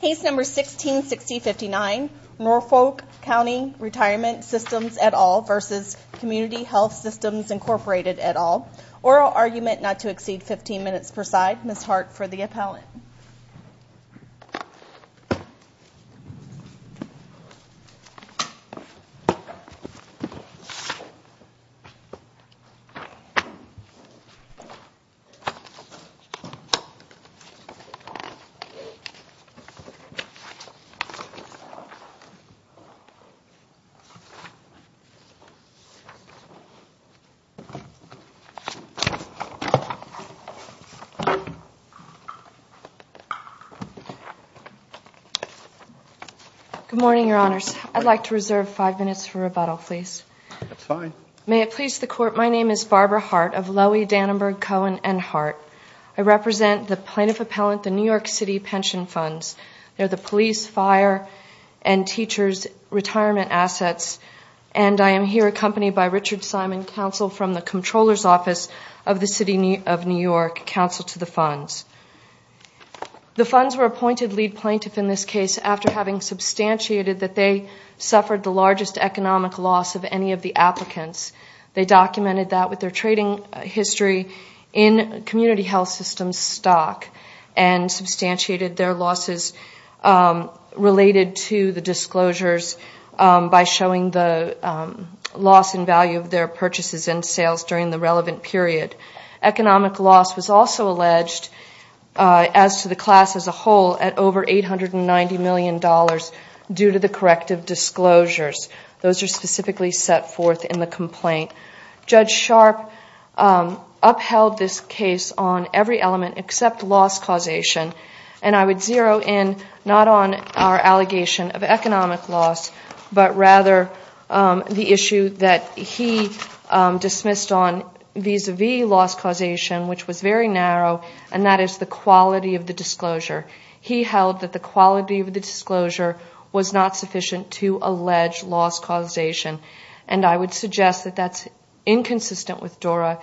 Case 16-6059 Norfolk Co Retirement System v. Community Health Systems Inc Oral argument not to exceed 15 minutes per side Ms. Hart for the appellant Good morning, Your Honors. I'd like to reserve five minutes for rebuttal, please. That's fine. May it please the Court, my name is Barbara Hart of Lowy, Dannenberg, Cohen & Hart. I represent the plaintiff appellant, the New York City Pension Funds. They're the police, fire, and teachers' retirement assets, and I am here accompanied by Richard Simon, counsel from the Comptroller's Office of the City of New York, counsel to the funds. The funds were appointed lead plaintiff in this case after having substantiated that they suffered the largest economic loss of any of the applicants. They documented that with their trading history in Community Health Systems stock and substantiated their losses related to the disclosures by showing the loss in value of their purchases and sales during the relevant period. Economic loss was also alleged as to the class as a whole at over $890 million due to the corrective disclosures. Those are specifically set forth in the complaint. Judge Sharp upheld this case on every element except loss causation, and I would zero in not on our allegation of economic loss, but rather the issue that he dismissed on vis-à-vis loss causation, which was very narrow, and that is the quality of the disclosure. He held that the quality of the disclosure was not sufficient to allege loss causation, and I would suggest that that's inconsistent with Dura,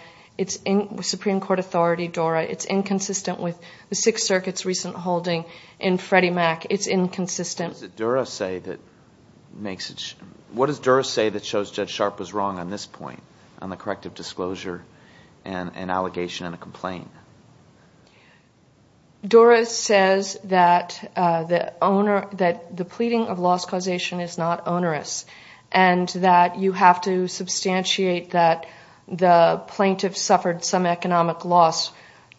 Supreme Court authority Dura. It's inconsistent with the Sixth Circuit's recent holding in Freddie Mac. It's inconsistent. What does Dura say that shows Judge Sharp was wrong on this point, on the corrective disclosure and allegation in the complaint? Dura says that the pleading of loss causation is not onerous and that you have to substantiate that the plaintiff suffered some economic loss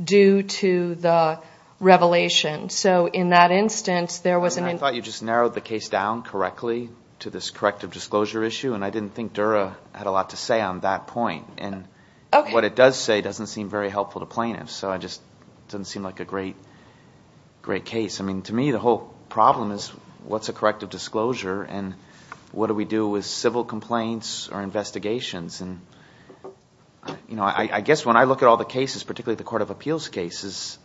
due to the revelation. So in that instance, there was an instance. I thought you just narrowed the case down correctly to this corrective disclosure issue, and I didn't think Dura had a lot to say on that point. What it does say doesn't seem very helpful to plaintiffs, so it doesn't seem like a great case. To me, the whole problem is what's a corrective disclosure and what do we do with civil complaints or investigations. I guess when I look at all the cases, particularly the court of appeals cases,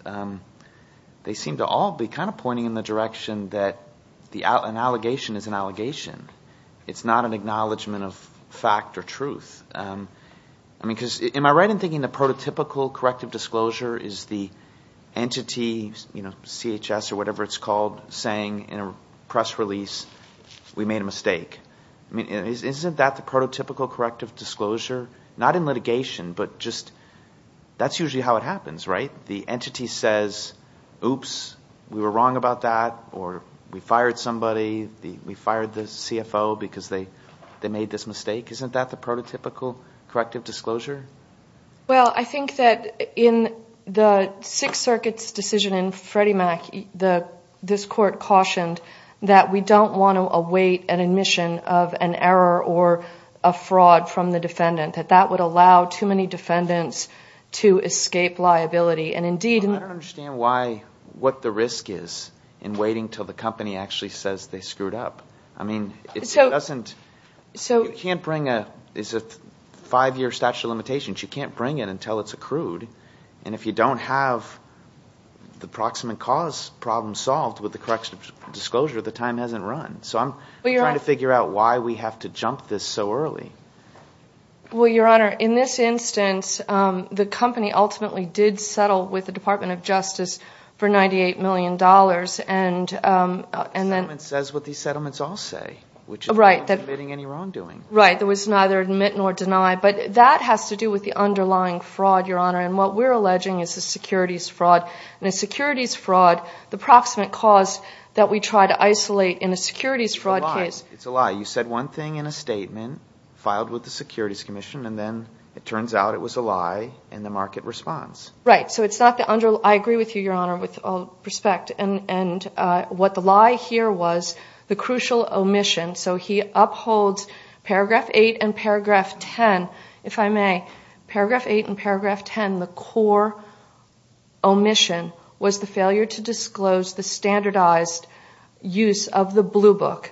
they seem to all be kind of pointing in the direction that an allegation is an allegation. It's not an acknowledgment of fact or truth. Am I right in thinking the prototypical corrective disclosure is the entity, CHS or whatever it's called, saying in a press release, we made a mistake? Isn't that the prototypical corrective disclosure? Not in litigation, but that's usually how it happens, right? The entity says, oops, we were wrong about that, or we fired somebody, we fired the CFO because they made this mistake. Isn't that the prototypical corrective disclosure? Well, I think that in the Sixth Circuit's decision in Freddie Mac, this court cautioned that we don't want to await an admission of an error or a fraud from the defendant, that that would allow too many defendants to escape liability. I don't understand what the risk is in waiting until the company actually says they screwed up. I mean, you can't bring a five-year statute of limitations. You can't bring it until it's accrued. And if you don't have the proximate cause problem solved with the corrective disclosure, the time hasn't run. So I'm trying to figure out why we have to jump this so early. Well, Your Honor, in this instance, the company ultimately did settle with the Department of Justice for $98 million. The settlement says what these settlements all say, which is not committing any wrongdoing. Right. There was neither admit nor deny. But that has to do with the underlying fraud, Your Honor. And what we're alleging is a securities fraud. And a securities fraud, the proximate cause that we try to isolate in a securities fraud case. It's a lie. You said one thing in a statement filed with the Securities Commission. And then it turns out it was a lie in the market response. Right. So it's not the underlying. I agree with you, Your Honor, with all respect. And what the lie here was the crucial omission. So he upholds Paragraph 8 and Paragraph 10, if I may. Paragraph 8 and Paragraph 10, the core omission was the failure to disclose the standardized use of the blue book.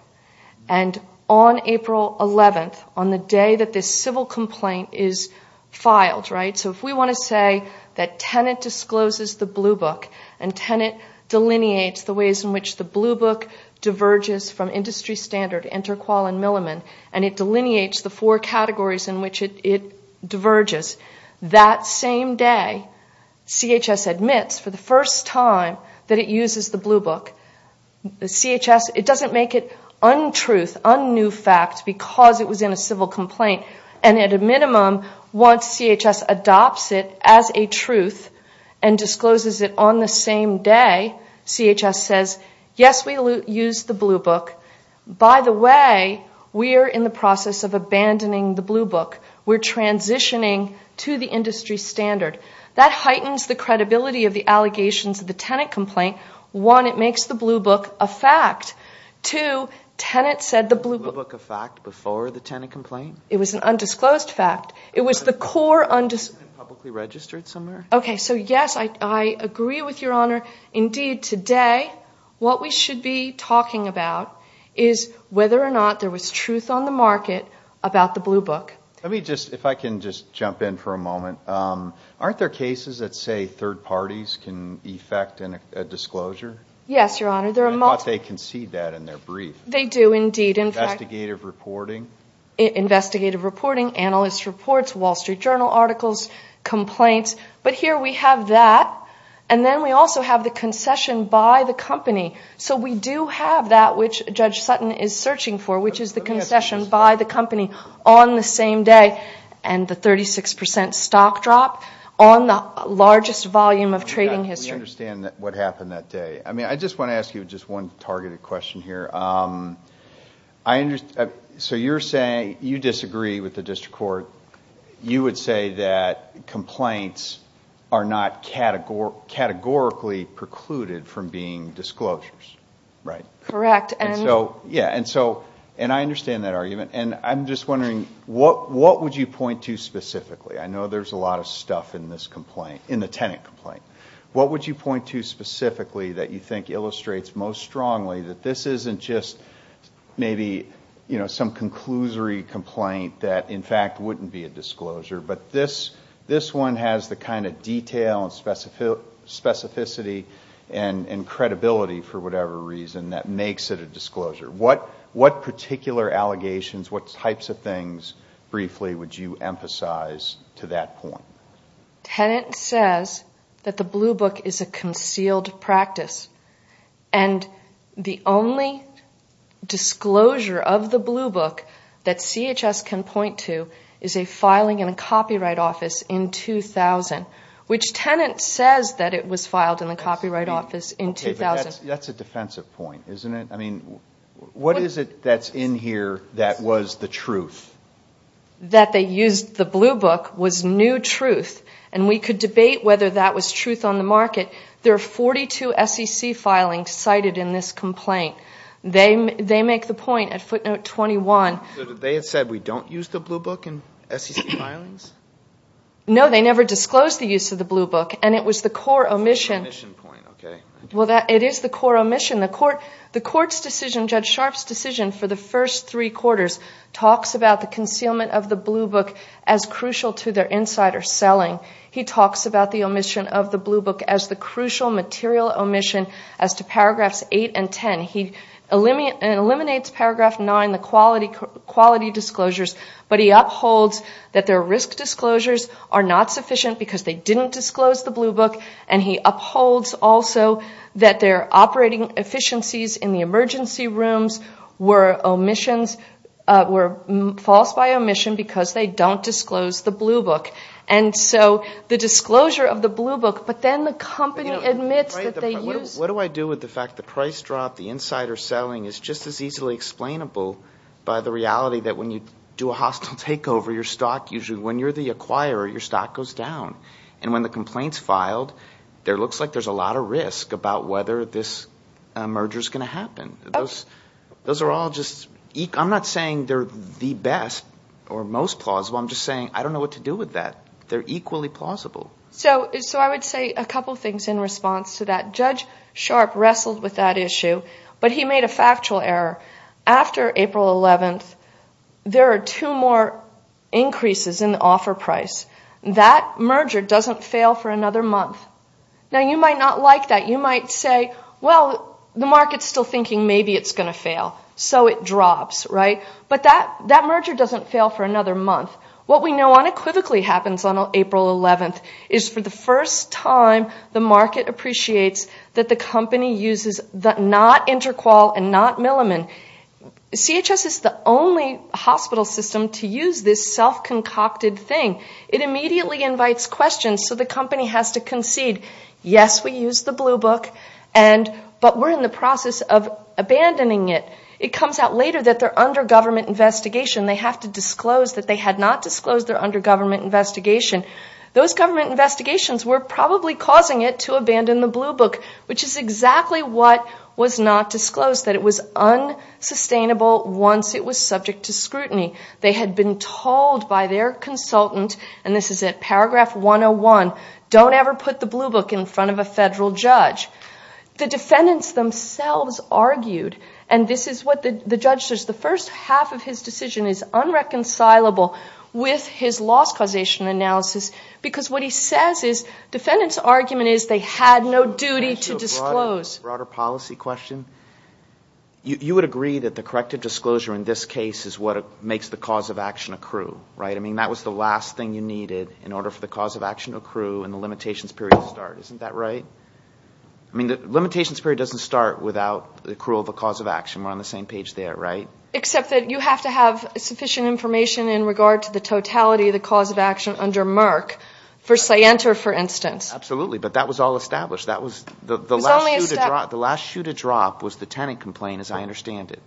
And on April 11th, on the day that this civil complaint is filed, right, so if we want to say that Tenet discloses the blue book and Tenet delineates the ways in which the blue book diverges from Industry Standard, Interqual, and Milliman, and it delineates the four categories in which it diverges, that same day, CHS admits for the first time that it uses the blue book. CHS, it doesn't make it untruth, un-new fact, because it was in a civil complaint. And at a minimum, once CHS adopts it as a truth and discloses it on the same day, CHS says, yes, we use the blue book. By the way, we are in the process of abandoning the blue book. We're transitioning to the Industry Standard. That heightens the credibility of the allegations of the Tenet complaint. One, it makes the blue book a fact. Two, Tenet said the blue book- The blue book a fact before the Tenet complaint? It was an undisclosed fact. It was the core- Publicly registered somewhere? Okay, so yes, I agree with Your Honor. Indeed, today, what we should be talking about is whether or not there was truth on the market about the blue book. Let me just, if I can just jump in for a moment. Aren't there cases that say third parties can effect a disclosure? Yes, Your Honor. I thought they concede that in their brief. They do, indeed. Investigative reporting? Investigative reporting, analyst reports, Wall Street Journal articles, complaints. But here we have that. And then we also have the concession by the company. So we do have that, which Judge Sutton is searching for, which is the concession by the company on the same day. And the 36% stock drop on the largest volume of trading history. We understand what happened that day. I just want to ask you just one targeted question here. So you're saying you disagree with the district court. You would say that complaints are not categorically precluded from being disclosures, right? Correct. And I understand that argument. And I'm just wondering, what would you point to specifically? I know there's a lot of stuff in this complaint, in the tenant complaint. What would you point to specifically that you think illustrates most strongly that this isn't just maybe some conclusory complaint that in fact wouldn't be a disclosure, but this one has the kind of detail and specificity and credibility, for whatever reason, that makes it a disclosure? What particular allegations, what types of things, briefly, would you emphasize to that point? Tenant says that the Blue Book is a concealed practice. And the only disclosure of the Blue Book that CHS can point to is a filing in a copyright office in 2000. Which tenant says that it was filed in a copyright office in 2000? That's a defensive point, isn't it? I mean, what is it that's in here that was the truth? That they used the Blue Book was new truth. And we could debate whether that was truth on the market. There are 42 SEC filings cited in this complaint. They make the point at footnote 21. So they had said, we don't use the Blue Book in SEC filings? No, they never disclosed the use of the Blue Book, and it was the core omission. It's an omission point, okay. Well, it is the core omission. The court's decision, Judge Sharpe's decision for the first three quarters, talks about the concealment of the Blue Book as crucial to their insider selling. He talks about the omission of the Blue Book as the crucial material omission as to paragraphs 8 and 10. He eliminates paragraph 9, the quality disclosures. But he upholds that their risk disclosures are not sufficient because they didn't disclose the Blue Book. And he upholds also that their operating efficiencies in the emergency rooms were omissions, were false by omission because they don't disclose the Blue Book. And so the disclosure of the Blue Book, but then the company admits that they use the Blue Book. What do I do with the fact the price drop, the insider selling, is just as easily explainable by the reality that when you do a hostile takeover, your stock usually, when you're the acquirer, your stock goes down. And when the complaint's filed, there looks like there's a lot of risk about whether this merger's going to happen. Those are all just, I'm not saying they're the best or most plausible. I'm just saying I don't know what to do with that. They're equally plausible. So I would say a couple things in response to that. Judge Sharp wrestled with that issue, but he made a factual error. After April 11th, there are two more increases in the offer price. That merger doesn't fail for another month. Now, you might not like that. You might say, well, the market's still thinking maybe it's going to fail, so it drops, right? But that merger doesn't fail for another month. What we know unequivocally happens on April 11th is for the first time, the market appreciates that the company uses not InterQol and not Milliman. CHS is the only hospital system to use this self-concocted thing. It immediately invites questions, so the company has to concede, yes, we use the Blue Book, but we're in the process of abandoning it. It comes out later that they're under government investigation. They have to disclose that they had not disclosed they're under government investigation. Those government investigations were probably causing it to abandon the Blue Book, which is exactly what was not disclosed, that it was unsustainable once it was subject to scrutiny. They had been told by their consultant, and this is at paragraph 101, don't ever put the Blue Book in front of a federal judge. The defendants themselves argued, and this is what the judge says, the first half of his decision is unreconcilable with his loss causation analysis, because what he says is defendants' argument is they had no duty to disclose. A broader policy question, you would agree that the corrective disclosure in this case is what makes the cause of action accrue, right? I mean, that was the last thing you needed in order for the cause of action to accrue and the limitations period to start, isn't that right? I mean, the limitations period doesn't start without the accrual of a cause of action. We're on the same page there, right? Except that you have to have sufficient information in regard to the totality of the cause of action under Merck. For Scienter, for instance. Absolutely, but that was all established. The last shoe to drop was the tenant complaint, as I understand it.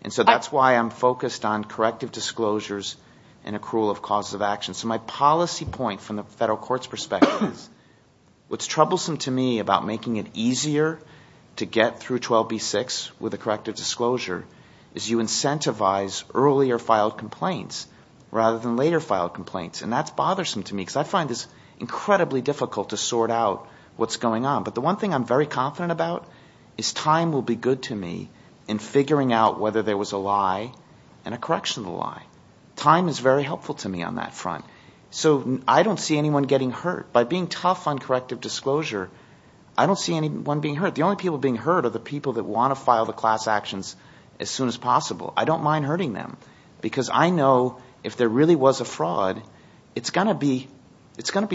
And so that's why I'm focused on corrective disclosures and accrual of causes of action. So my policy point from the federal court's perspective is what's troublesome to me about making it easier to get through 12b-6 with a corrective disclosure is you incentivize earlier filed complaints rather than later filed complaints, and that's bothersome to me because I find this incredibly difficult to sort out what's going on. But the one thing I'm very confident about is time will be good to me in figuring out whether there was a lie and a correction of the lie. Time is very helpful to me on that front. So I don't see anyone getting hurt. By being tough on corrective disclosure, I don't see anyone being hurt. The only people being hurt are the people that want to file the class actions as soon as possible. I don't mind hurting them because I know if there really was a fraud, it's going to be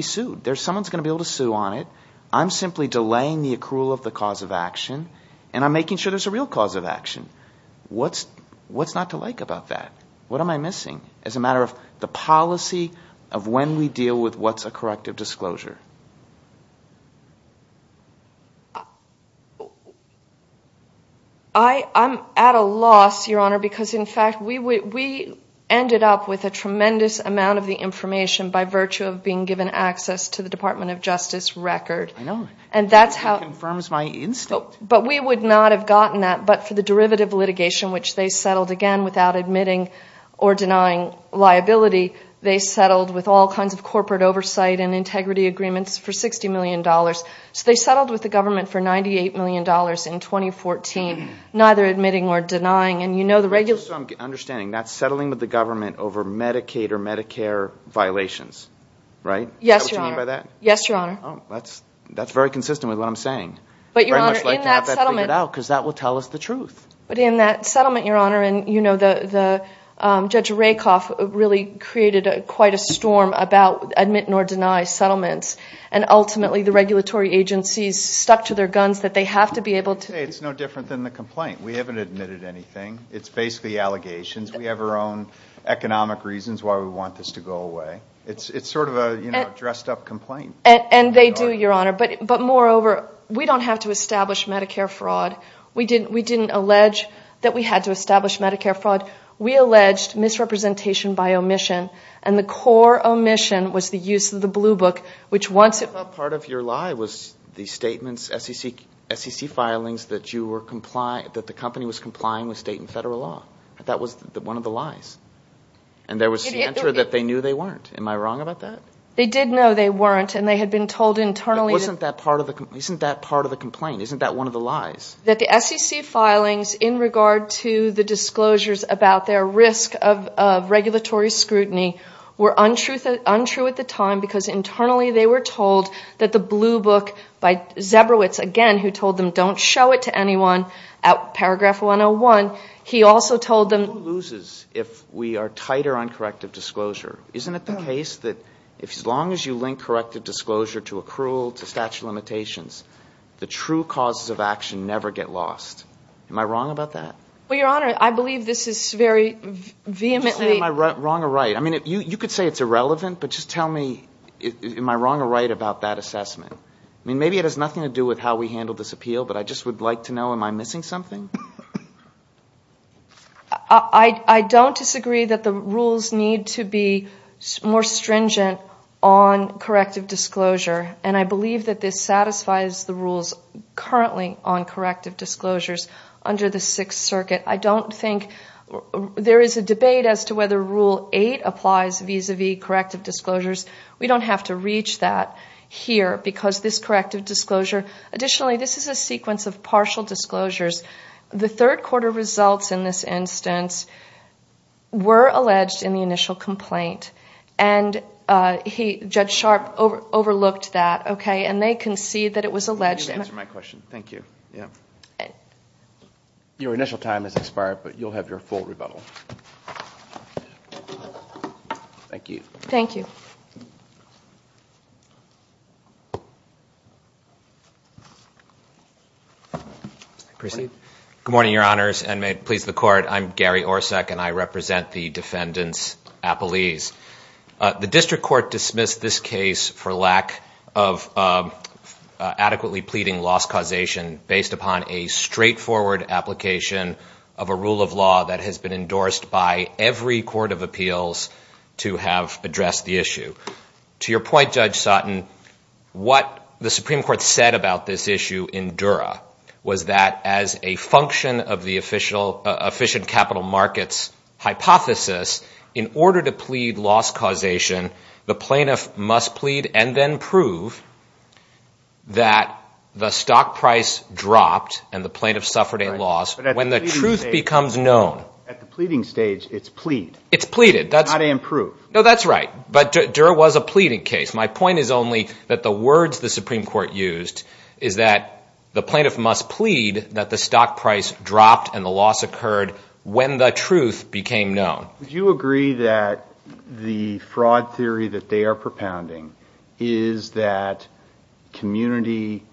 sued. Someone's going to be able to sue on it. I'm simply delaying the accrual of the cause of action, and I'm making sure there's a real cause of action. What's not to like about that? What am I missing as a matter of the policy of when we deal with what's a corrective disclosure? I'm at a loss, Your Honor, because, in fact, we ended up with a tremendous amount of the information by virtue of being given access to the Department of Justice record. I know. And that's how it confirms my instinct. But we would not have gotten that. But for the derivative litigation, which they settled, again, without admitting or denying liability, they settled with all kinds of corporate oversight and integrity agreements for $60 million. So they settled with the government for $98 million in 2014, neither admitting nor denying. And you know the regular— So I'm understanding that's settling with the government over Medicaid or Medicare violations, right? Yes, Your Honor. Is that what you mean by that? Yes, Your Honor. Oh, that's very consistent with what I'm saying. But, Your Honor, in that settlement— I'd very much like to have that figured out because that will tell us the truth. But in that settlement, Your Honor, and, you know, Judge Rakoff really created quite a storm about admit-nor-deny settlements, and ultimately the regulatory agencies stuck to their guns that they have to be able to— It's no different than the complaint. We haven't admitted anything. It's basically allegations. We have our own economic reasons why we want this to go away. It's sort of a dressed-up complaint. And they do, Your Honor. But moreover, we don't have to establish Medicare fraud. We didn't allege that we had to establish Medicare fraud. We alleged misrepresentation by omission, and the core omission was the use of the blue book, which once it— I thought part of your lie was the statements, SEC filings, that you were—that the company was complying with state and federal law. That was one of the lies. And there was the answer that they knew they weren't. Am I wrong about that? They did know they weren't, and they had been told internally— But wasn't that part of the—isn't that part of the complaint? Isn't that one of the lies? That the SEC filings in regard to the disclosures about their risk of regulatory scrutiny were untrue at the time because internally they were told that the blue book by Zebrowitz, again, who told them don't show it to anyone, paragraph 101, he also told them— Who loses if we are tighter on corrective disclosure? Isn't it the case that as long as you link corrective disclosure to accrual, to statute of limitations, the true causes of action never get lost? Am I wrong about that? Well, Your Honor, I believe this is very vehemently— Just tell me, am I wrong or right? I mean, you could say it's irrelevant, but just tell me, am I wrong or right about that assessment? I mean, maybe it has nothing to do with how we handled this appeal, but I just would like to know, am I missing something? I don't disagree that the rules need to be more stringent on corrective disclosure, and I believe that this satisfies the rules currently on corrective disclosures under the Sixth Circuit. I don't think—there is a debate as to whether Rule 8 applies vis-a-vis corrective disclosures. We don't have to reach that here because this corrective disclosure— The third-quarter results in this instance were alleged in the initial complaint, and Judge Sharpe overlooked that, okay, and they concede that it was alleged— You answered my question. Thank you. Your initial time has expired, but you'll have your full rebuttal. Thank you. Thank you. Good morning, Your Honors, and may it please the Court. I'm Gary Orsak, and I represent the defendants' appellees. The district court dismissed this case for lack of adequately pleading loss causation based upon a straightforward application of a rule of law that has been endorsed by every court of appeals to have addressed the issue. To your point, Judge Sutton, what the Supreme Court said about this issue in Dura was that as a function of the efficient capital markets hypothesis, in order to plead loss causation, the plaintiff must plead and then prove that the stock price dropped and the plaintiff suffered a loss when the truth becomes known. At the pleading stage, it's plead. It's pleaded. Not and prove. No, that's right, but Dura was a pleading case. My point is only that the words the Supreme Court used is that the plaintiff must plead that the stock price dropped and the loss occurred when the truth became known. Would you agree that the fraud theory that they are propounding is that community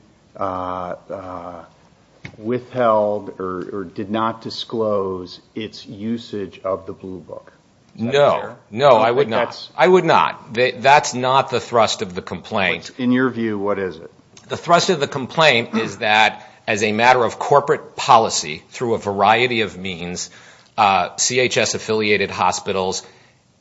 withheld or did not disclose its usage of the Blue Book? No. No, I would not. I would not. That's not the thrust of the complaint. In your view, what is it? The thrust of the complaint is that as a matter of corporate policy through a variety of means, CHS-affiliated hospitals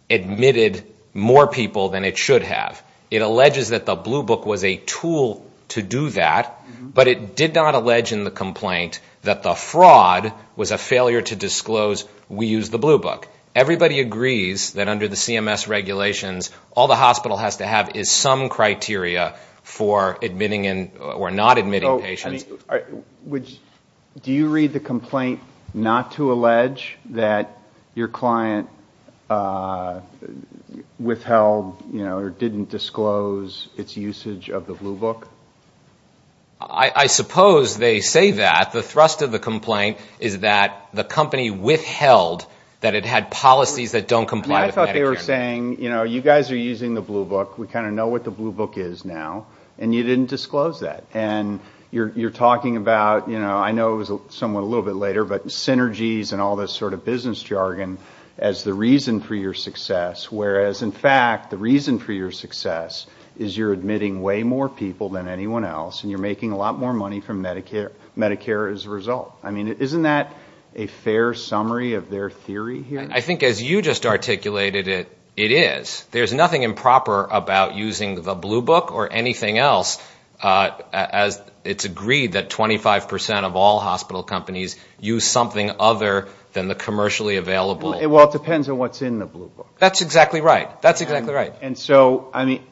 admitted more people than it should have. It alleges that the Blue Book was a tool to do that, but it did not allege in the complaint that the fraud was a failure to disclose we used the Blue Book. Everybody agrees that under the CMS regulations, all the hospital has to have is some criteria for admitting or not admitting patients. Do you read the complaint not to allege that your client withheld or didn't disclose its usage of the Blue Book? I suppose they say that. The thrust of the complaint is that the company withheld that it had policies that don't comply with Medicare. I thought they were saying, you know, you guys are using the Blue Book. We kind of know what the Blue Book is now, and you didn't disclose that. And you're talking about, you know, I know it was somewhat a little bit later, but synergies and all this sort of business jargon as the reason for your success, whereas in fact the reason for your success is you're admitting way more people than anyone else, and you're making a lot more money from Medicare as a result. I mean, isn't that a fair summary of their theory here? I think as you just articulated it, it is. There's nothing improper about using the Blue Book or anything else, as it's agreed that 25% of all hospital companies use something other than the commercially available. Well, it depends on what's in the Blue Book. That's exactly right. That's exactly right. And so, I mean,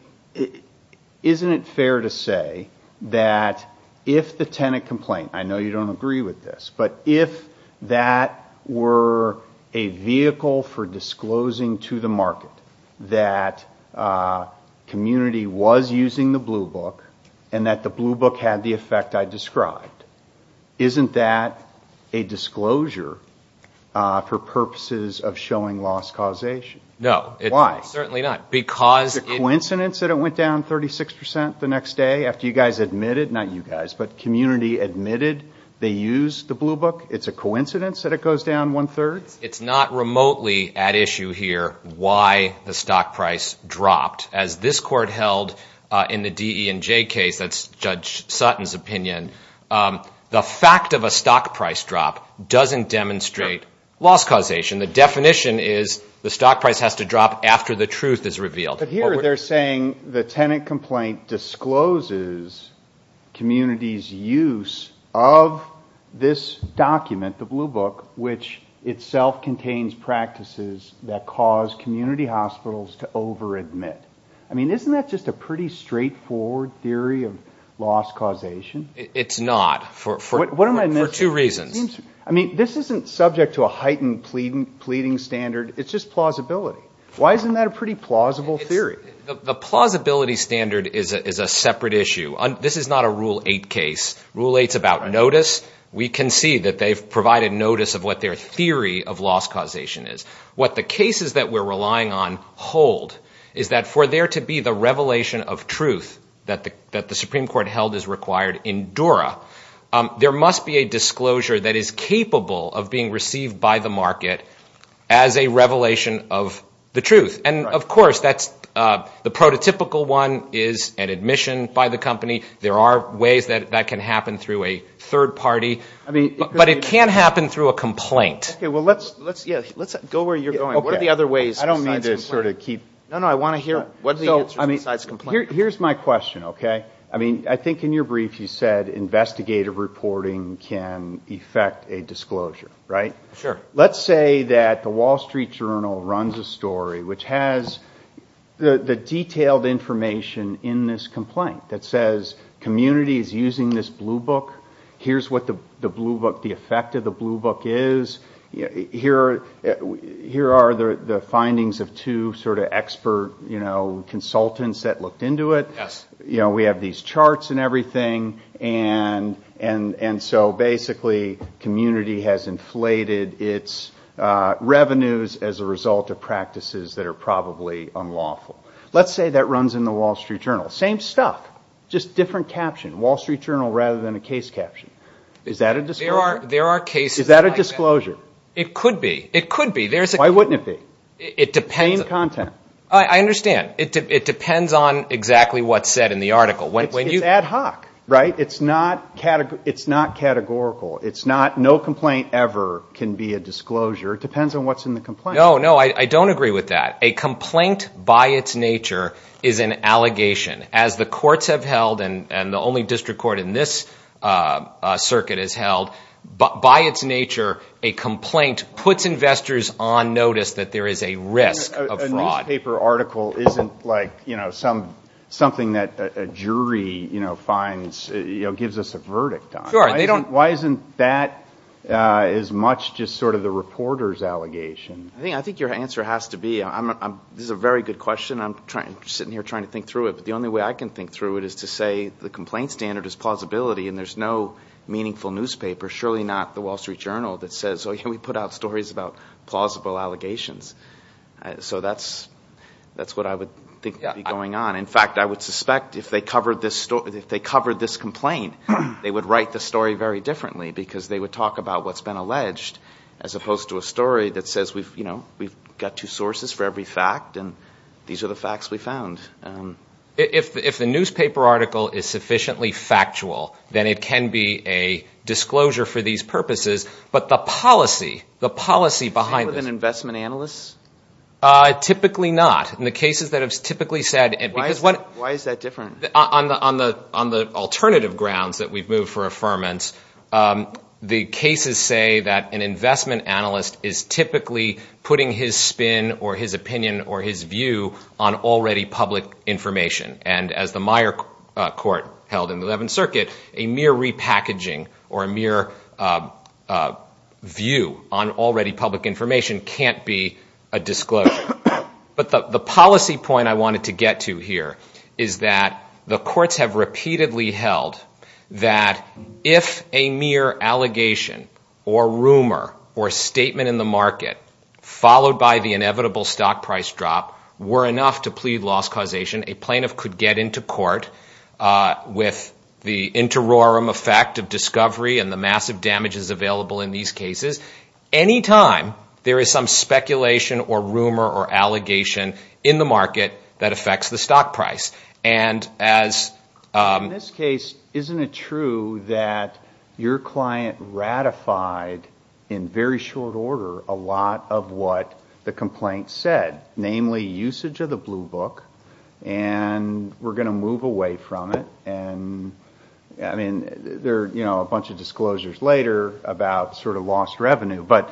isn't it fair to say that if the tenant complaint, I know you don't agree with this, but if that were a vehicle for disclosing to the market that community was using the Blue Book and that the Blue Book had the effect I described, isn't that a disclosure for purposes of showing loss causation? No. Why? Certainly not. Is it a coincidence that it went down 36% the next day after you guys admitted, not you guys, but community admitted they used the Blue Book? It's a coincidence that it goes down one-third? It's not remotely at issue here why the stock price dropped. As this Court held in the DE&J case, that's Judge Sutton's opinion, the fact of a stock price drop doesn't demonstrate loss causation. The definition is the stock price has to drop after the truth is revealed. But here they're saying the tenant complaint discloses community's use of this document, the Blue Book, which itself contains practices that cause community hospitals to over-admit. I mean, isn't that just a pretty straightforward theory of loss causation? It's not for two reasons. I mean, this isn't subject to a heightened pleading standard. It's just plausibility. Why isn't that a pretty plausible theory? The plausibility standard is a separate issue. This is not a Rule 8 case. Rule 8 is about notice. We can see that they've provided notice of what their theory of loss causation is. What the cases that we're relying on hold is that for there to be the revelation of truth that the Supreme Court held is required in DORA, there must be a disclosure that is capable of being received by the market as a revelation of the truth. And, of course, the prototypical one is an admission by the company. There are ways that that can happen through a third party. But it can't happen through a complaint. Okay, well, let's go where you're going. What are the other ways besides complaint? I don't mean to sort of keep – No, no, I want to hear what are the answers besides complaint. Here's my question, okay? I mean, I think in your brief you said investigative reporting can effect a disclosure, right? Sure. Let's say that the Wall Street Journal runs a story which has the detailed information in this complaint that says community is using this blue book. Here's what the blue book – the effect of the blue book is. Here are the findings of two sort of expert consultants that looked into it. We have these charts and everything, and so basically community has inflated its revenues as a result of practices that are probably unlawful. Let's say that runs in the Wall Street Journal. Same stuff, just different caption. Wall Street Journal rather than a case caption. Is that a disclosure? There are cases – Is that a disclosure? It could be. It could be. Why wouldn't it be? It depends – Same content. I understand. It depends on exactly what's said in the article. It's ad hoc, right? It's not categorical. No complaint ever can be a disclosure. It depends on what's in the complaint. No, no, I don't agree with that. A complaint by its nature is an allegation. As the courts have held, and the only district court in this circuit has held, by its nature a complaint puts investors on notice that there is a risk of fraud. A newspaper article isn't like something that a jury finds – gives us a verdict on. Sure, they don't – Why isn't that as much just sort of the reporter's allegation? I think your answer has to be – this is a very good question. I'm sitting here trying to think through it, but the only way I can think through it is to say the complaint standard is plausibility, and there's no meaningful newspaper, surely not the Wall Street Journal, that says, oh, yeah, we put out stories about plausible allegations. So that's what I would think would be going on. In fact, I would suspect if they covered this complaint, they would write the story very differently because they would talk about what's been alleged as opposed to a story that says we've got two sources for every fact, and these are the facts we found. If the newspaper article is sufficiently factual, then it can be a disclosure for these purposes. Typically not. In the cases that have typically said – Why is that different? On the alternative grounds that we've moved for affirmance, the cases say that an investment analyst is typically putting his spin or his opinion or his view on already public information, and as the Meyer court held in the 11th Circuit, a mere repackaging or a mere view on already public information can't be a disclosure. But the policy point I wanted to get to here is that the courts have repeatedly held that if a mere allegation or rumor or statement in the market followed by the inevitable stock price drop were enough to plead loss causation, a plaintiff could get into court with the interiorum effect of discovery and the massive damages available in these cases. Any time there is some speculation or rumor or allegation in the market that affects the stock price, and as – In this case, isn't it true that your client ratified in very short order a lot of what the complaint said, namely usage of the blue book, and we're going to move away from it? And, I mean, there are a bunch of disclosures later about sort of lost revenue, but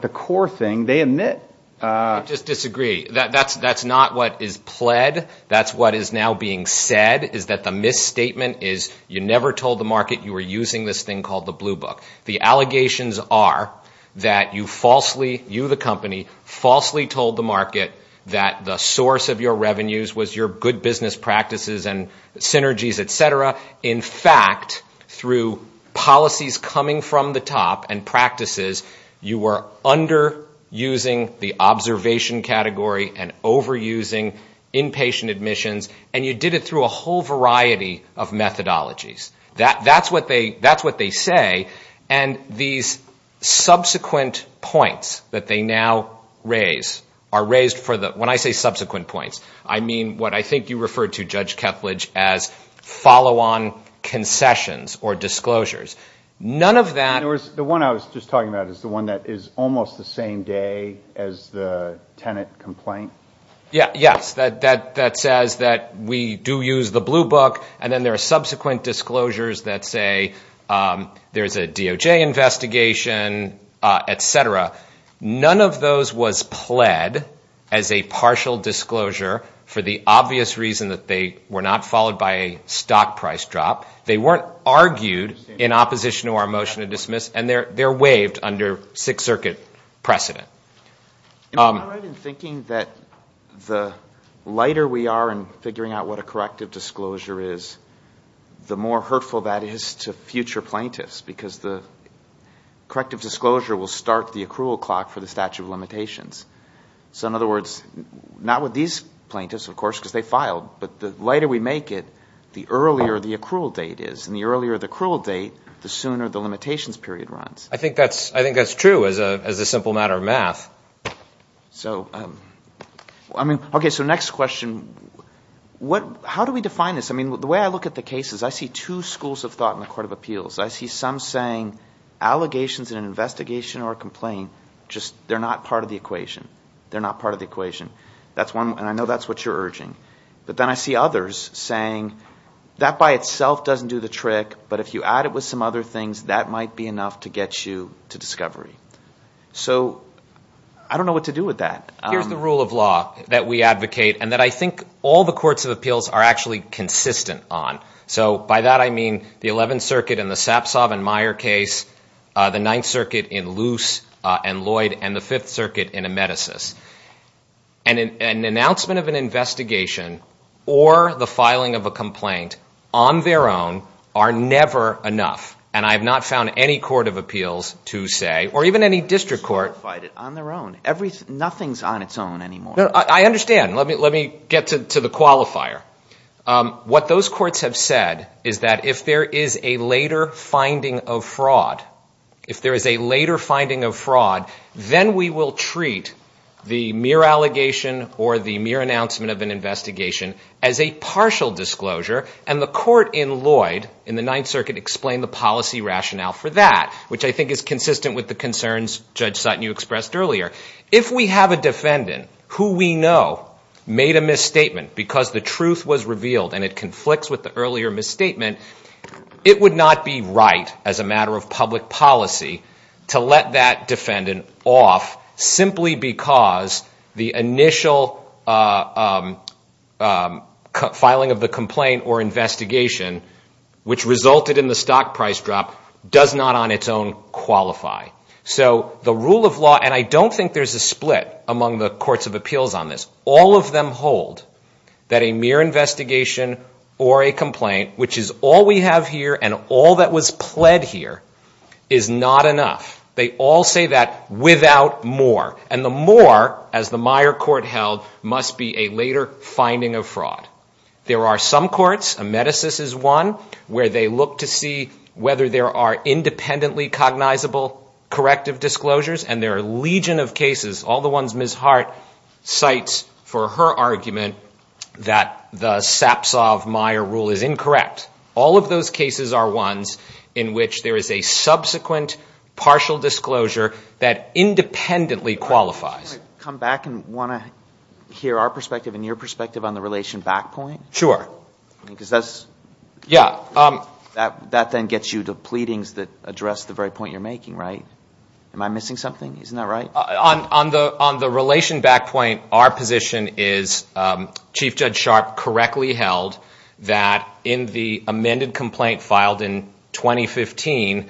the core thing they admit – I just disagree. That's not what is pled. That's what is now being said is that the misstatement is you never told the market you were using this thing called the blue book. The allegations are that you falsely – you, the company, falsely told the market that the source of your revenues was your good business practices and synergies, et cetera. In fact, through policies coming from the top and practices, you were underusing the observation category and overusing inpatient admissions, and you did it through a whole variety of methodologies. That's what they say, and these subsequent points that they now raise are raised for the – when I say subsequent points, I mean what I think you referred to, Judge Kethledge, as follow-on concessions or disclosures. None of that – In other words, the one I was just talking about is the one that is almost the same day as the tenant complaint? Yes, that says that we do use the blue book, and then there are subsequent disclosures that say there's a DOJ investigation, et cetera. None of those was pled as a partial disclosure for the obvious reason that they were not followed by a stock price drop. They weren't argued in opposition to our motion to dismiss, and they're waived under Sixth Circuit precedent. Am I right in thinking that the lighter we are in figuring out what a corrective disclosure is, the more hurtful that is to future plaintiffs because the corrective disclosure will start the accrual clock for the statute of limitations? So in other words, not with these plaintiffs, of course, because they filed, but the lighter we make it, the earlier the accrual date is, and the earlier the accrual date, the sooner the limitations period runs. I think that's true as a simple matter of math. Okay, so next question. How do we define this? I mean, the way I look at the case is I see two schools of thought in the Court of Appeals. I see some saying allegations in an investigation or a complaint, just they're not part of the equation. They're not part of the equation, and I know that's what you're urging. But then I see others saying that by itself doesn't do the trick, but if you add it with some other things, that might be enough to get you to discovery. So I don't know what to do with that. Here's the rule of law that we advocate and that I think all the courts of appeals are actually consistent on. So by that I mean the Eleventh Circuit in the Sapsov and Meyer case, the Ninth Circuit in Luce and Lloyd, and the Fifth Circuit in Amedesis. An announcement of an investigation or the filing of a complaint on their own are never enough, and I have not found any court of appeals to say, or even any district court. They just qualified it on their own. Nothing's on its own anymore. I understand. Let me get to the qualifier. What those courts have said is that if there is a later finding of fraud, if there is a later finding of fraud, then we will treat the mere allegation or the mere announcement of an investigation as a partial disclosure, and the court in Lloyd in the Ninth Circuit explained the policy rationale for that, which I think is consistent with the concerns Judge Sutton, you expressed earlier. If we have a defendant who we know made a misstatement because the truth was revealed and it conflicts with the earlier misstatement, it would not be right as a matter of public policy to let that defendant off simply because the initial filing of the complaint or investigation, which resulted in the stock price drop, does not on its own qualify. So the rule of law, and I don't think there's a split among the courts of appeals on this, all of them hold that a mere investigation or a complaint, which is all we have here and all that was pled here, is not enough. They all say that without more, and the more, as the Meyer Court held, must be a later finding of fraud. There are some courts, Amedesis is one, where they look to see whether there are independently cognizable corrective disclosures, and there are a legion of cases, all the ones Ms. Hart cites for her argument that the Sapsov-Meyer rule is incorrect. All of those cases are ones in which there is a subsequent partial disclosure that independently qualifies. I want to come back and want to hear our perspective and your perspective on the relation back point. Sure. Because that then gets you to pleadings that address the very point you're making, right? Am I missing something? Isn't that right? On the relation back point, our position is Chief Judge Sharp correctly held that in the amended complaint filed in 2015,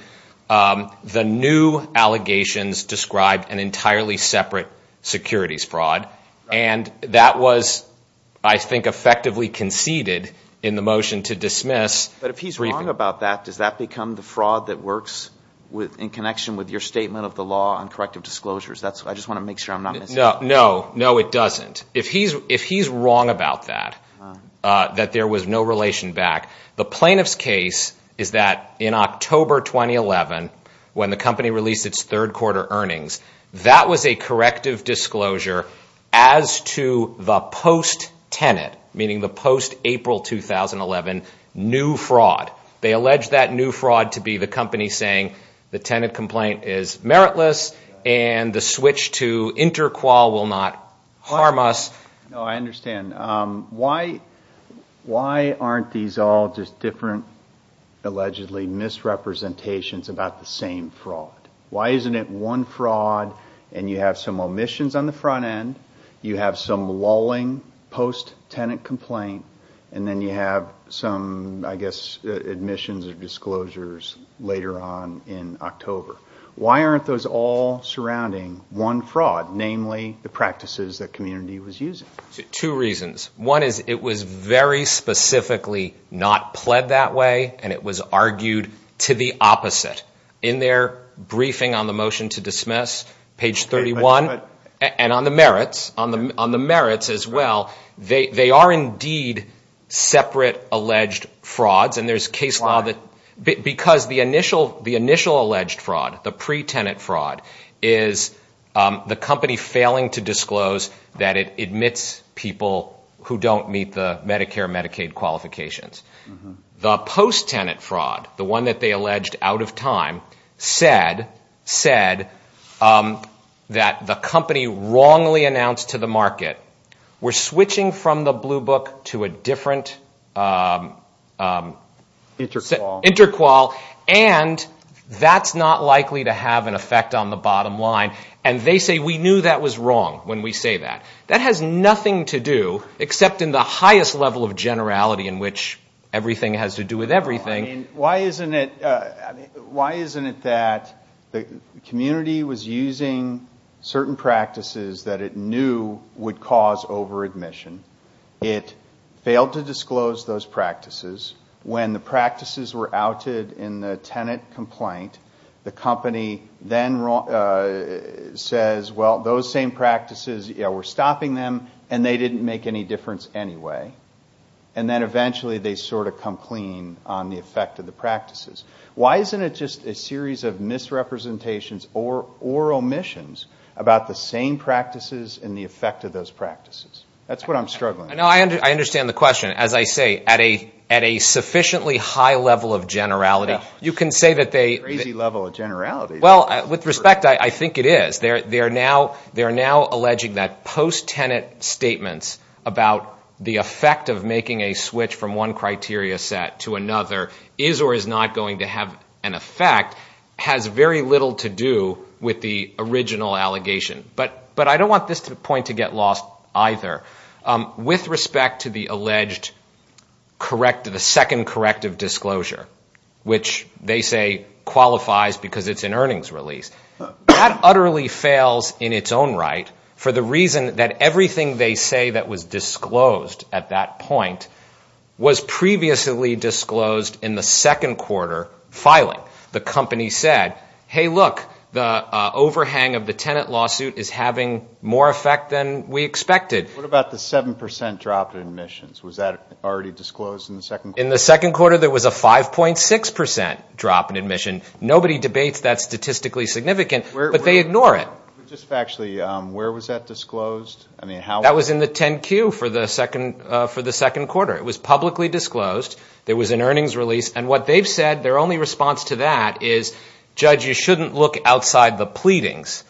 the new allegations described an entirely separate securities fraud, and that was, I think, effectively conceded in the motion to dismiss. But if he's wrong about that, does that become the fraud that works in connection with your statement of the law on corrective disclosures? I just want to make sure I'm not missing anything. No, it doesn't. If he's wrong about that, that there was no relation back, the plaintiff's case is that in October 2011, when the company released its third quarter earnings, that was a corrective disclosure as to the post-tenant, meaning the post-April 2011, new fraud. They alleged that new fraud to be the company saying the tenant complaint is meritless and the switch to inter-qual will not harm us. I understand. Why aren't these all just different, allegedly misrepresentations about the same fraud? Why isn't it one fraud and you have some omissions on the front end, you have some lulling post-tenant complaint, and then you have some, I guess, admissions or disclosures later on in October? Why aren't those all surrounding one fraud, namely the practices that Community was using? Two reasons. One is it was very specifically not pled that way and it was argued to the opposite. In their briefing on the motion to dismiss, page 31, and on the merits as well, they are indeed separate alleged frauds. Why? Because the initial alleged fraud, the pre-tenant fraud, is the company failing to disclose that it admits people who don't meet the Medicare and Medicaid qualifications. The post-tenant fraud, the one that they alleged out of time, said that the company wrongly announced to the market, we're switching from the Blue Book to a different inter-qual, and that's not likely to have an effect on the bottom line. And they say, we knew that was wrong when we say that. That has nothing to do, except in the highest level of generality in which everything has to do with everything. Why isn't it that Community was using certain practices that it knew would cause over-admission? It failed to disclose those practices. When the practices were outed in the tenant complaint, the company then says, well, those same practices, we're stopping them, and they didn't make any difference anyway. And then eventually they sort of come clean on the effect of the practices. Why isn't it just a series of misrepresentations or omissions about the same practices and the effect of those practices? That's what I'm struggling with. I understand the question. As I say, at a sufficiently high level of generality, you can say that they... Crazy level of generality. Well, with respect, I think it is. They're now alleging that post-tenant statements about the effect of making a switch from one criteria set to another is or is not going to have an effect has very little to do with the original allegation. But I don't want this point to get lost either. With respect to the alleged corrective, the second corrective disclosure, which they say qualifies because it's an earnings release, that utterly fails in its own right for the reason that everything they say that was disclosed at that point was previously disclosed in the second quarter filing. The company said, hey, look, the overhang of the tenant lawsuit is having more effect than we expected. What about the 7% drop in admissions? Was that already disclosed in the second quarter? In the second quarter, there was a 5.6% drop in admission. Nobody debates that statistically significant, but they ignore it. Just factually, where was that disclosed? That was in the 10-Q for the second quarter. It was publicly disclosed. There was an earnings release. And what they've said, their only response to that is, judge, you shouldn't look outside the pleadings.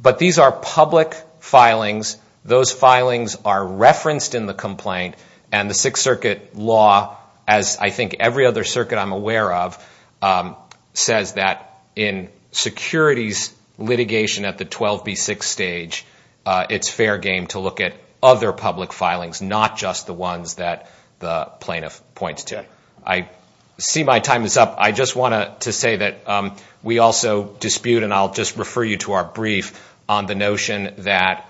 But these are public filings. Those filings are referenced in the complaint. And the Sixth Circuit law, as I think every other circuit I'm aware of, says that in securities litigation at the 12B6 stage, it's fair game to look at other public filings, not just the ones that the plaintiff points to. I see my time is up. I just want to say that we also dispute, and I'll just refer you to our brief, on the notion that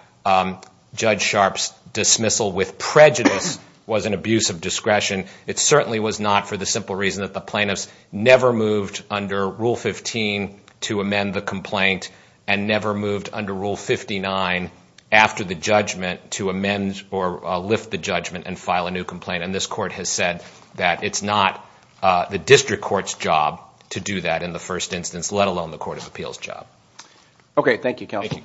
Judge Sharpe's dismissal with prejudice was an abuse of discretion. It certainly was not for the simple reason that the plaintiffs never moved under Rule 15 to amend the complaint and never moved under Rule 59 after the judgment to amend or lift the judgment and file a new complaint. And this Court has said that it's not the district court's job to do that in the first instance, let alone the Court of Appeals' job. Okay, thank you, Counsel. Thank you.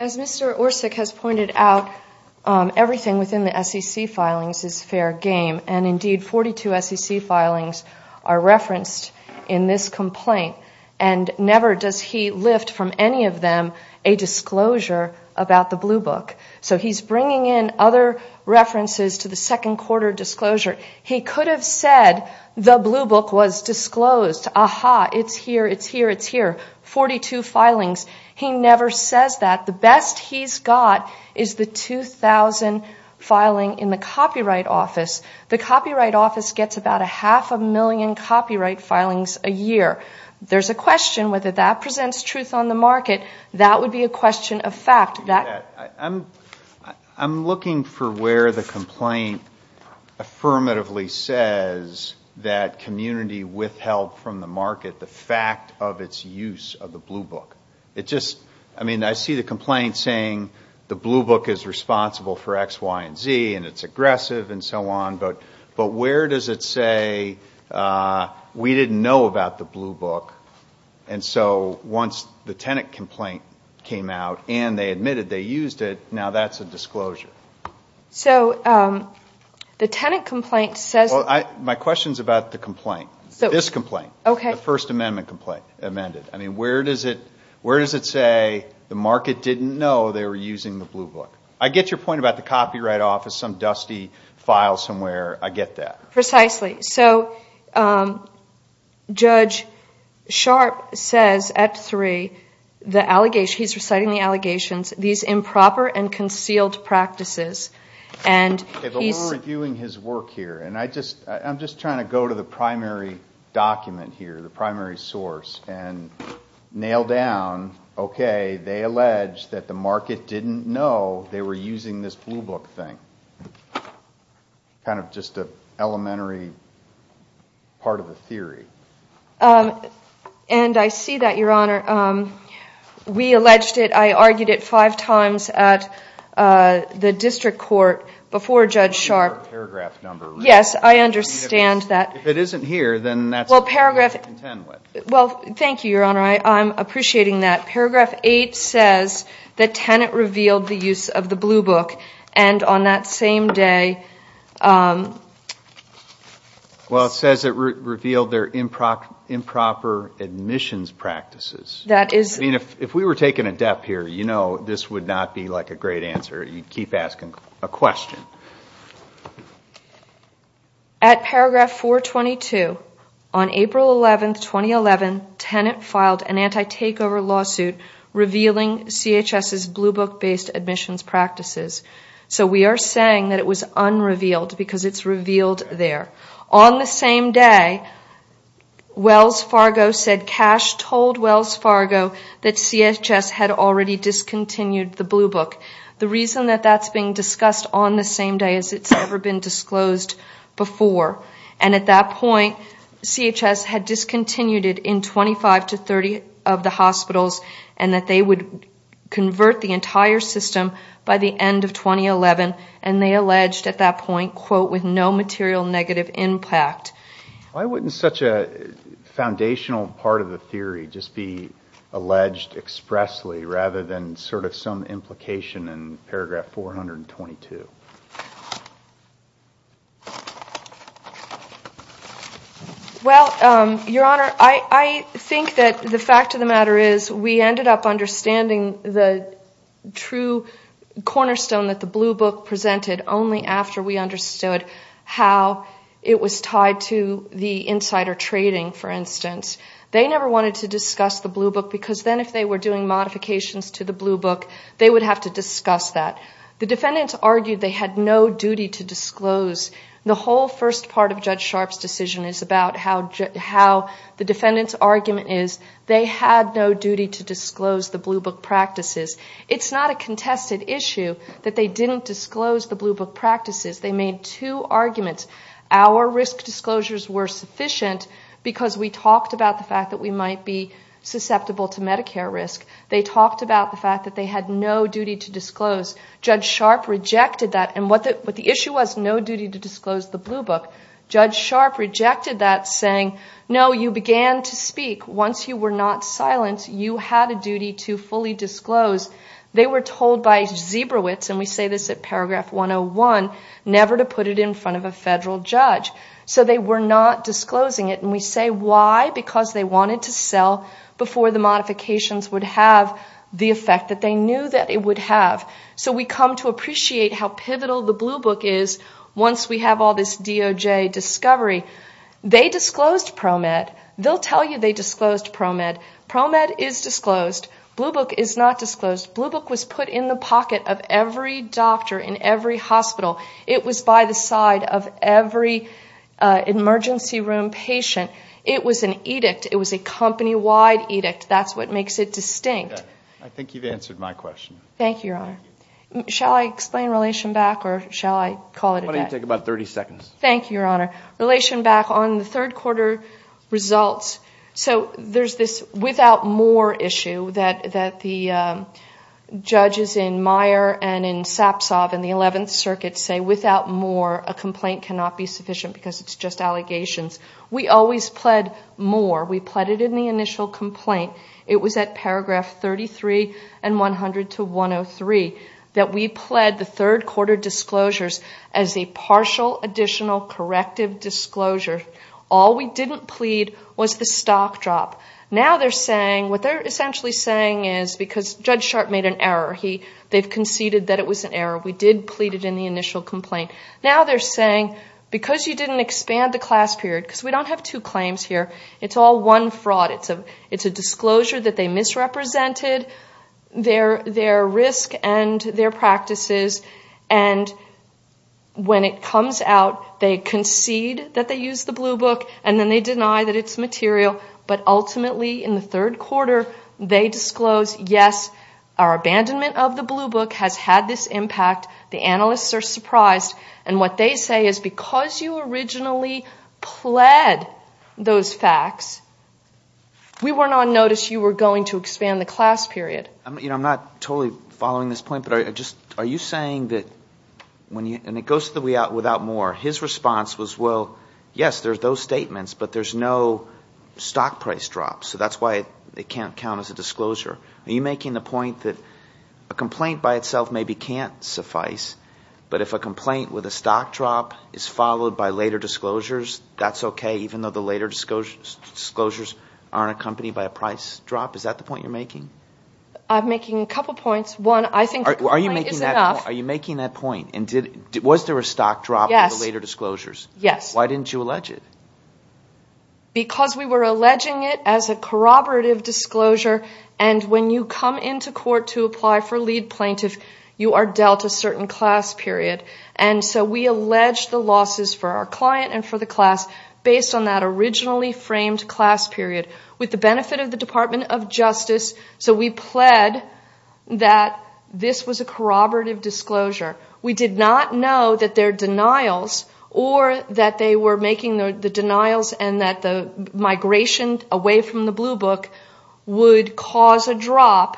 As Mr. Orsik has pointed out, everything within the SEC filings is fair game, and indeed 42 SEC filings are referenced in this complaint, and never does he lift from any of them a disclosure about the Blue Book. So he's bringing in other references to the second-quarter disclosure. He could have said the Blue Book was disclosed. Aha, it's here, it's here, it's here, 42 filings. He never says that. The best he's got is the 2,000 filing in the Copyright Office. The Copyright Office gets about a half a million copyright filings a year. There's a question whether that presents truth on the market. That would be a question of fact. I'm looking for where the complaint affirmatively says that community withheld from the market the fact of its use of the Blue Book. I mean, I see the complaint saying the Blue Book is responsible for X, Y, and Z, and it's aggressive and so on, but where does it say we didn't know about the Blue Book? And so once the tenant complaint came out and they admitted they used it, now that's a disclosure. My question is about the complaint, this complaint, the First Amendment complaint amended. I mean, where does it say the market didn't know they were using the Blue Book? I get your point about the Copyright Office, some dusty file somewhere, I get that. Precisely. Judge Sharpe says at three, he's reciting the allegations, these improper and concealed practices. We're reviewing his work here, and I'm just trying to go to the primary document here, the primary source, and nail down, okay, they allege that the market didn't know they were using this Blue Book thing. Kind of just an elementary part of the theory. And I see that, Your Honor. We alleged it. I argued it five times at the district court before Judge Sharpe. Paragraph number. Yes, I understand that. If it isn't here, then that's what you contend with. Well, thank you, Your Honor. I'm appreciating that. Paragraph eight says that Tenet revealed the use of the Blue Book, and on that same day... Well, it says it revealed their improper admissions practices. That is... I mean, if we were taking a depth here, you know this would not be like a great answer. You'd keep asking a question. At paragraph 422, on April 11, 2011, Tenet filed an anti-takeover lawsuit revealing CHS's Blue Book-based admissions practices. So we are saying that it was unrevealed because it's revealed there. On the same day, Wells Fargo said, Cash told Wells Fargo that CHS had already discontinued the Blue Book. The reason that that's being discussed on the same day is it's never been disclosed before. And at that point, CHS had discontinued it in 25 to 30 of the hospitals, and that they would convert the entire system by the end of 2011, and they alleged at that point, quote, with no material negative impact. Why wouldn't such a foundational part of the theory just be alleged expressly rather than sort of some implication in paragraph 422? Well, Your Honor, I think that the fact of the matter is we ended up understanding the true cornerstone that the Blue Book presented only after we understood how it was tied to the insider trading, for instance. They never wanted to discuss the Blue Book, because then if they were doing modifications to the Blue Book, they would have to discuss that. The defendants argued they had no duty to disclose. The whole first part of Judge Sharpe's decision is about how the defendant's argument is they had no duty to disclose the Blue Book practices. It's not a contested issue that they didn't disclose the Blue Book practices. They made two arguments. Our risk disclosures were sufficient because we talked about the fact that we might be susceptible to Medicare risk. They talked about the fact that they had no duty to disclose. Judge Sharpe rejected that, and what the issue was, no duty to disclose the Blue Book. Judge Sharpe rejected that, saying, no, you began to speak. Once you were not silent, you had a duty to fully disclose. They were told by Zebrowitz, and we say this at paragraph 101, never to put it in front of a federal judge. So they were not disclosing it, and we say why? Because they wanted to sell before the modifications would have the effect that they knew that it would have. So we come to appreciate how pivotal the Blue Book is once we have all this DOJ discovery. They disclosed ProMed. They'll tell you they disclosed ProMed. ProMed is disclosed. Blue Book is not disclosed. Blue Book was put in the pocket of every doctor in every hospital. It was by the side of every emergency room patient. It was an edict. It was a company-wide edict. That's what makes it distinct. I think you've answered my question. Thank you, Your Honor. Shall I explain Relation Back or shall I call it a day? Why don't you take about 30 seconds? Thank you, Your Honor. Relation Back on the third quarter results. So there's this without more issue that the judges in Meyer and in Sapsov in the 11th Circuit say without more a complaint cannot be sufficient because it's just allegations. We always pled more. We pled it in the initial complaint. It was at paragraph 33 and 100 to 103 that we pled the third quarter disclosures as a partial additional corrective disclosure. All we didn't plead was the stock drop. Now they're saying what they're essentially saying is because Judge Sharp made an error. They've conceded that it was an error. We did plead it in the initial complaint. Now they're saying because you didn't expand the class period, because we don't have two claims here, it's all one fraud. It's a disclosure that they misrepresented their risk and their practices. And when it comes out, they concede that they used the blue book and then they deny that it's material. But ultimately in the third quarter they disclose, yes, our abandonment of the blue book has had this impact. The analysts are surprised. And what they say is because you originally pled those facts, we were not noticed you were going to expand the class period. I'm not totally following this point, but are you saying that when you, and it goes to the without more, his response was, well, yes, there's those statements, but there's no stock price drop. So that's why it can't count as a disclosure. Are you making the point that a complaint by itself maybe can't suffice, but if a complaint with a stock drop is followed by later disclosures, that's okay, even though the later disclosures aren't accompanied by a price drop? Is that the point you're making? I'm making a couple points. Are you making that point? And was there a stock drop in the later disclosures? Yes. Why didn't you allege it? Because we were alleging it as a corroborative disclosure, and when you come into court to apply for lead plaintiff, you are dealt a certain class period. And so we allege the losses for our client and for the class based on that originally framed class period. With the benefit of the Department of Justice, so we pled that this was a corroborative disclosure. We did not know that their denials or that they were making the denials and that the migration away from the Blue Book would cause a drop.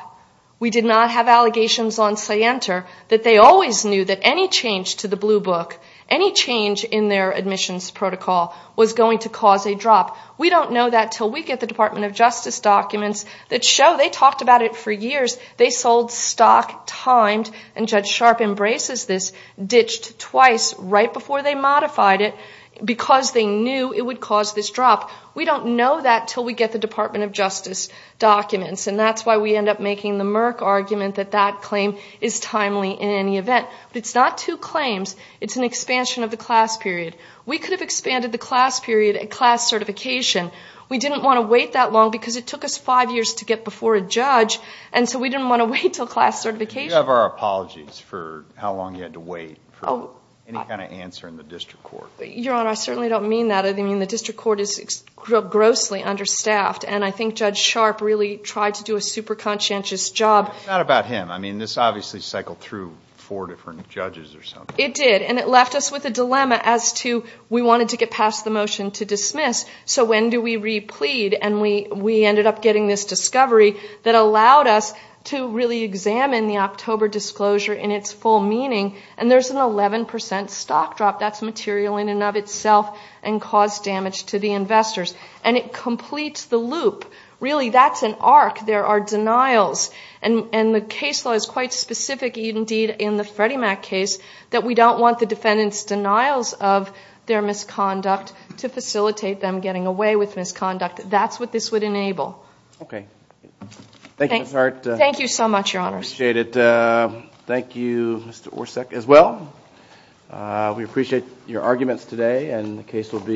We did not have allegations on Scienter that they always knew that any change to the Blue Book, any change in their admissions protocol was going to cause a drop. We don't know that until we get the Department of Justice documents that show they talked about it for years. They sold stock timed, and Judge Sharp embraces this, ditched twice right before they modified it because they knew it would cause this drop. We don't know that until we get the Department of Justice documents. And that's why we end up making the Merck argument that that claim is timely in any event. It's not two claims. It's an expansion of the class period. We could have expanded the class period at class certification. We didn't want to wait that long because it took us five years to get before a judge, and so we didn't want to wait until class certification. You have our apologies for how long you had to wait for any kind of answer in the district court. Your Honor, I certainly don't mean that. I mean, the district court is grossly understaffed, and I think Judge Sharp really tried to do a super conscientious job. It's not about him. I mean, this obviously cycled through four different judges or something. It did, and it left us with a dilemma as to we wanted to get past the motion to dismiss, so when do we replead? And we ended up getting this discovery that allowed us to really examine the October disclosure in its full meaning. And there's an 11 percent stock drop. That's material in and of itself and caused damage to the investors. And it completes the loop. Really, that's an arc. There are denials, and the case law is quite specific indeed in the Freddie Mac case that we don't want the defendant's denials of their misconduct to facilitate them getting away with misconduct. That's what this would enable. Okay. Thank you, Ms. Hart. Thank you.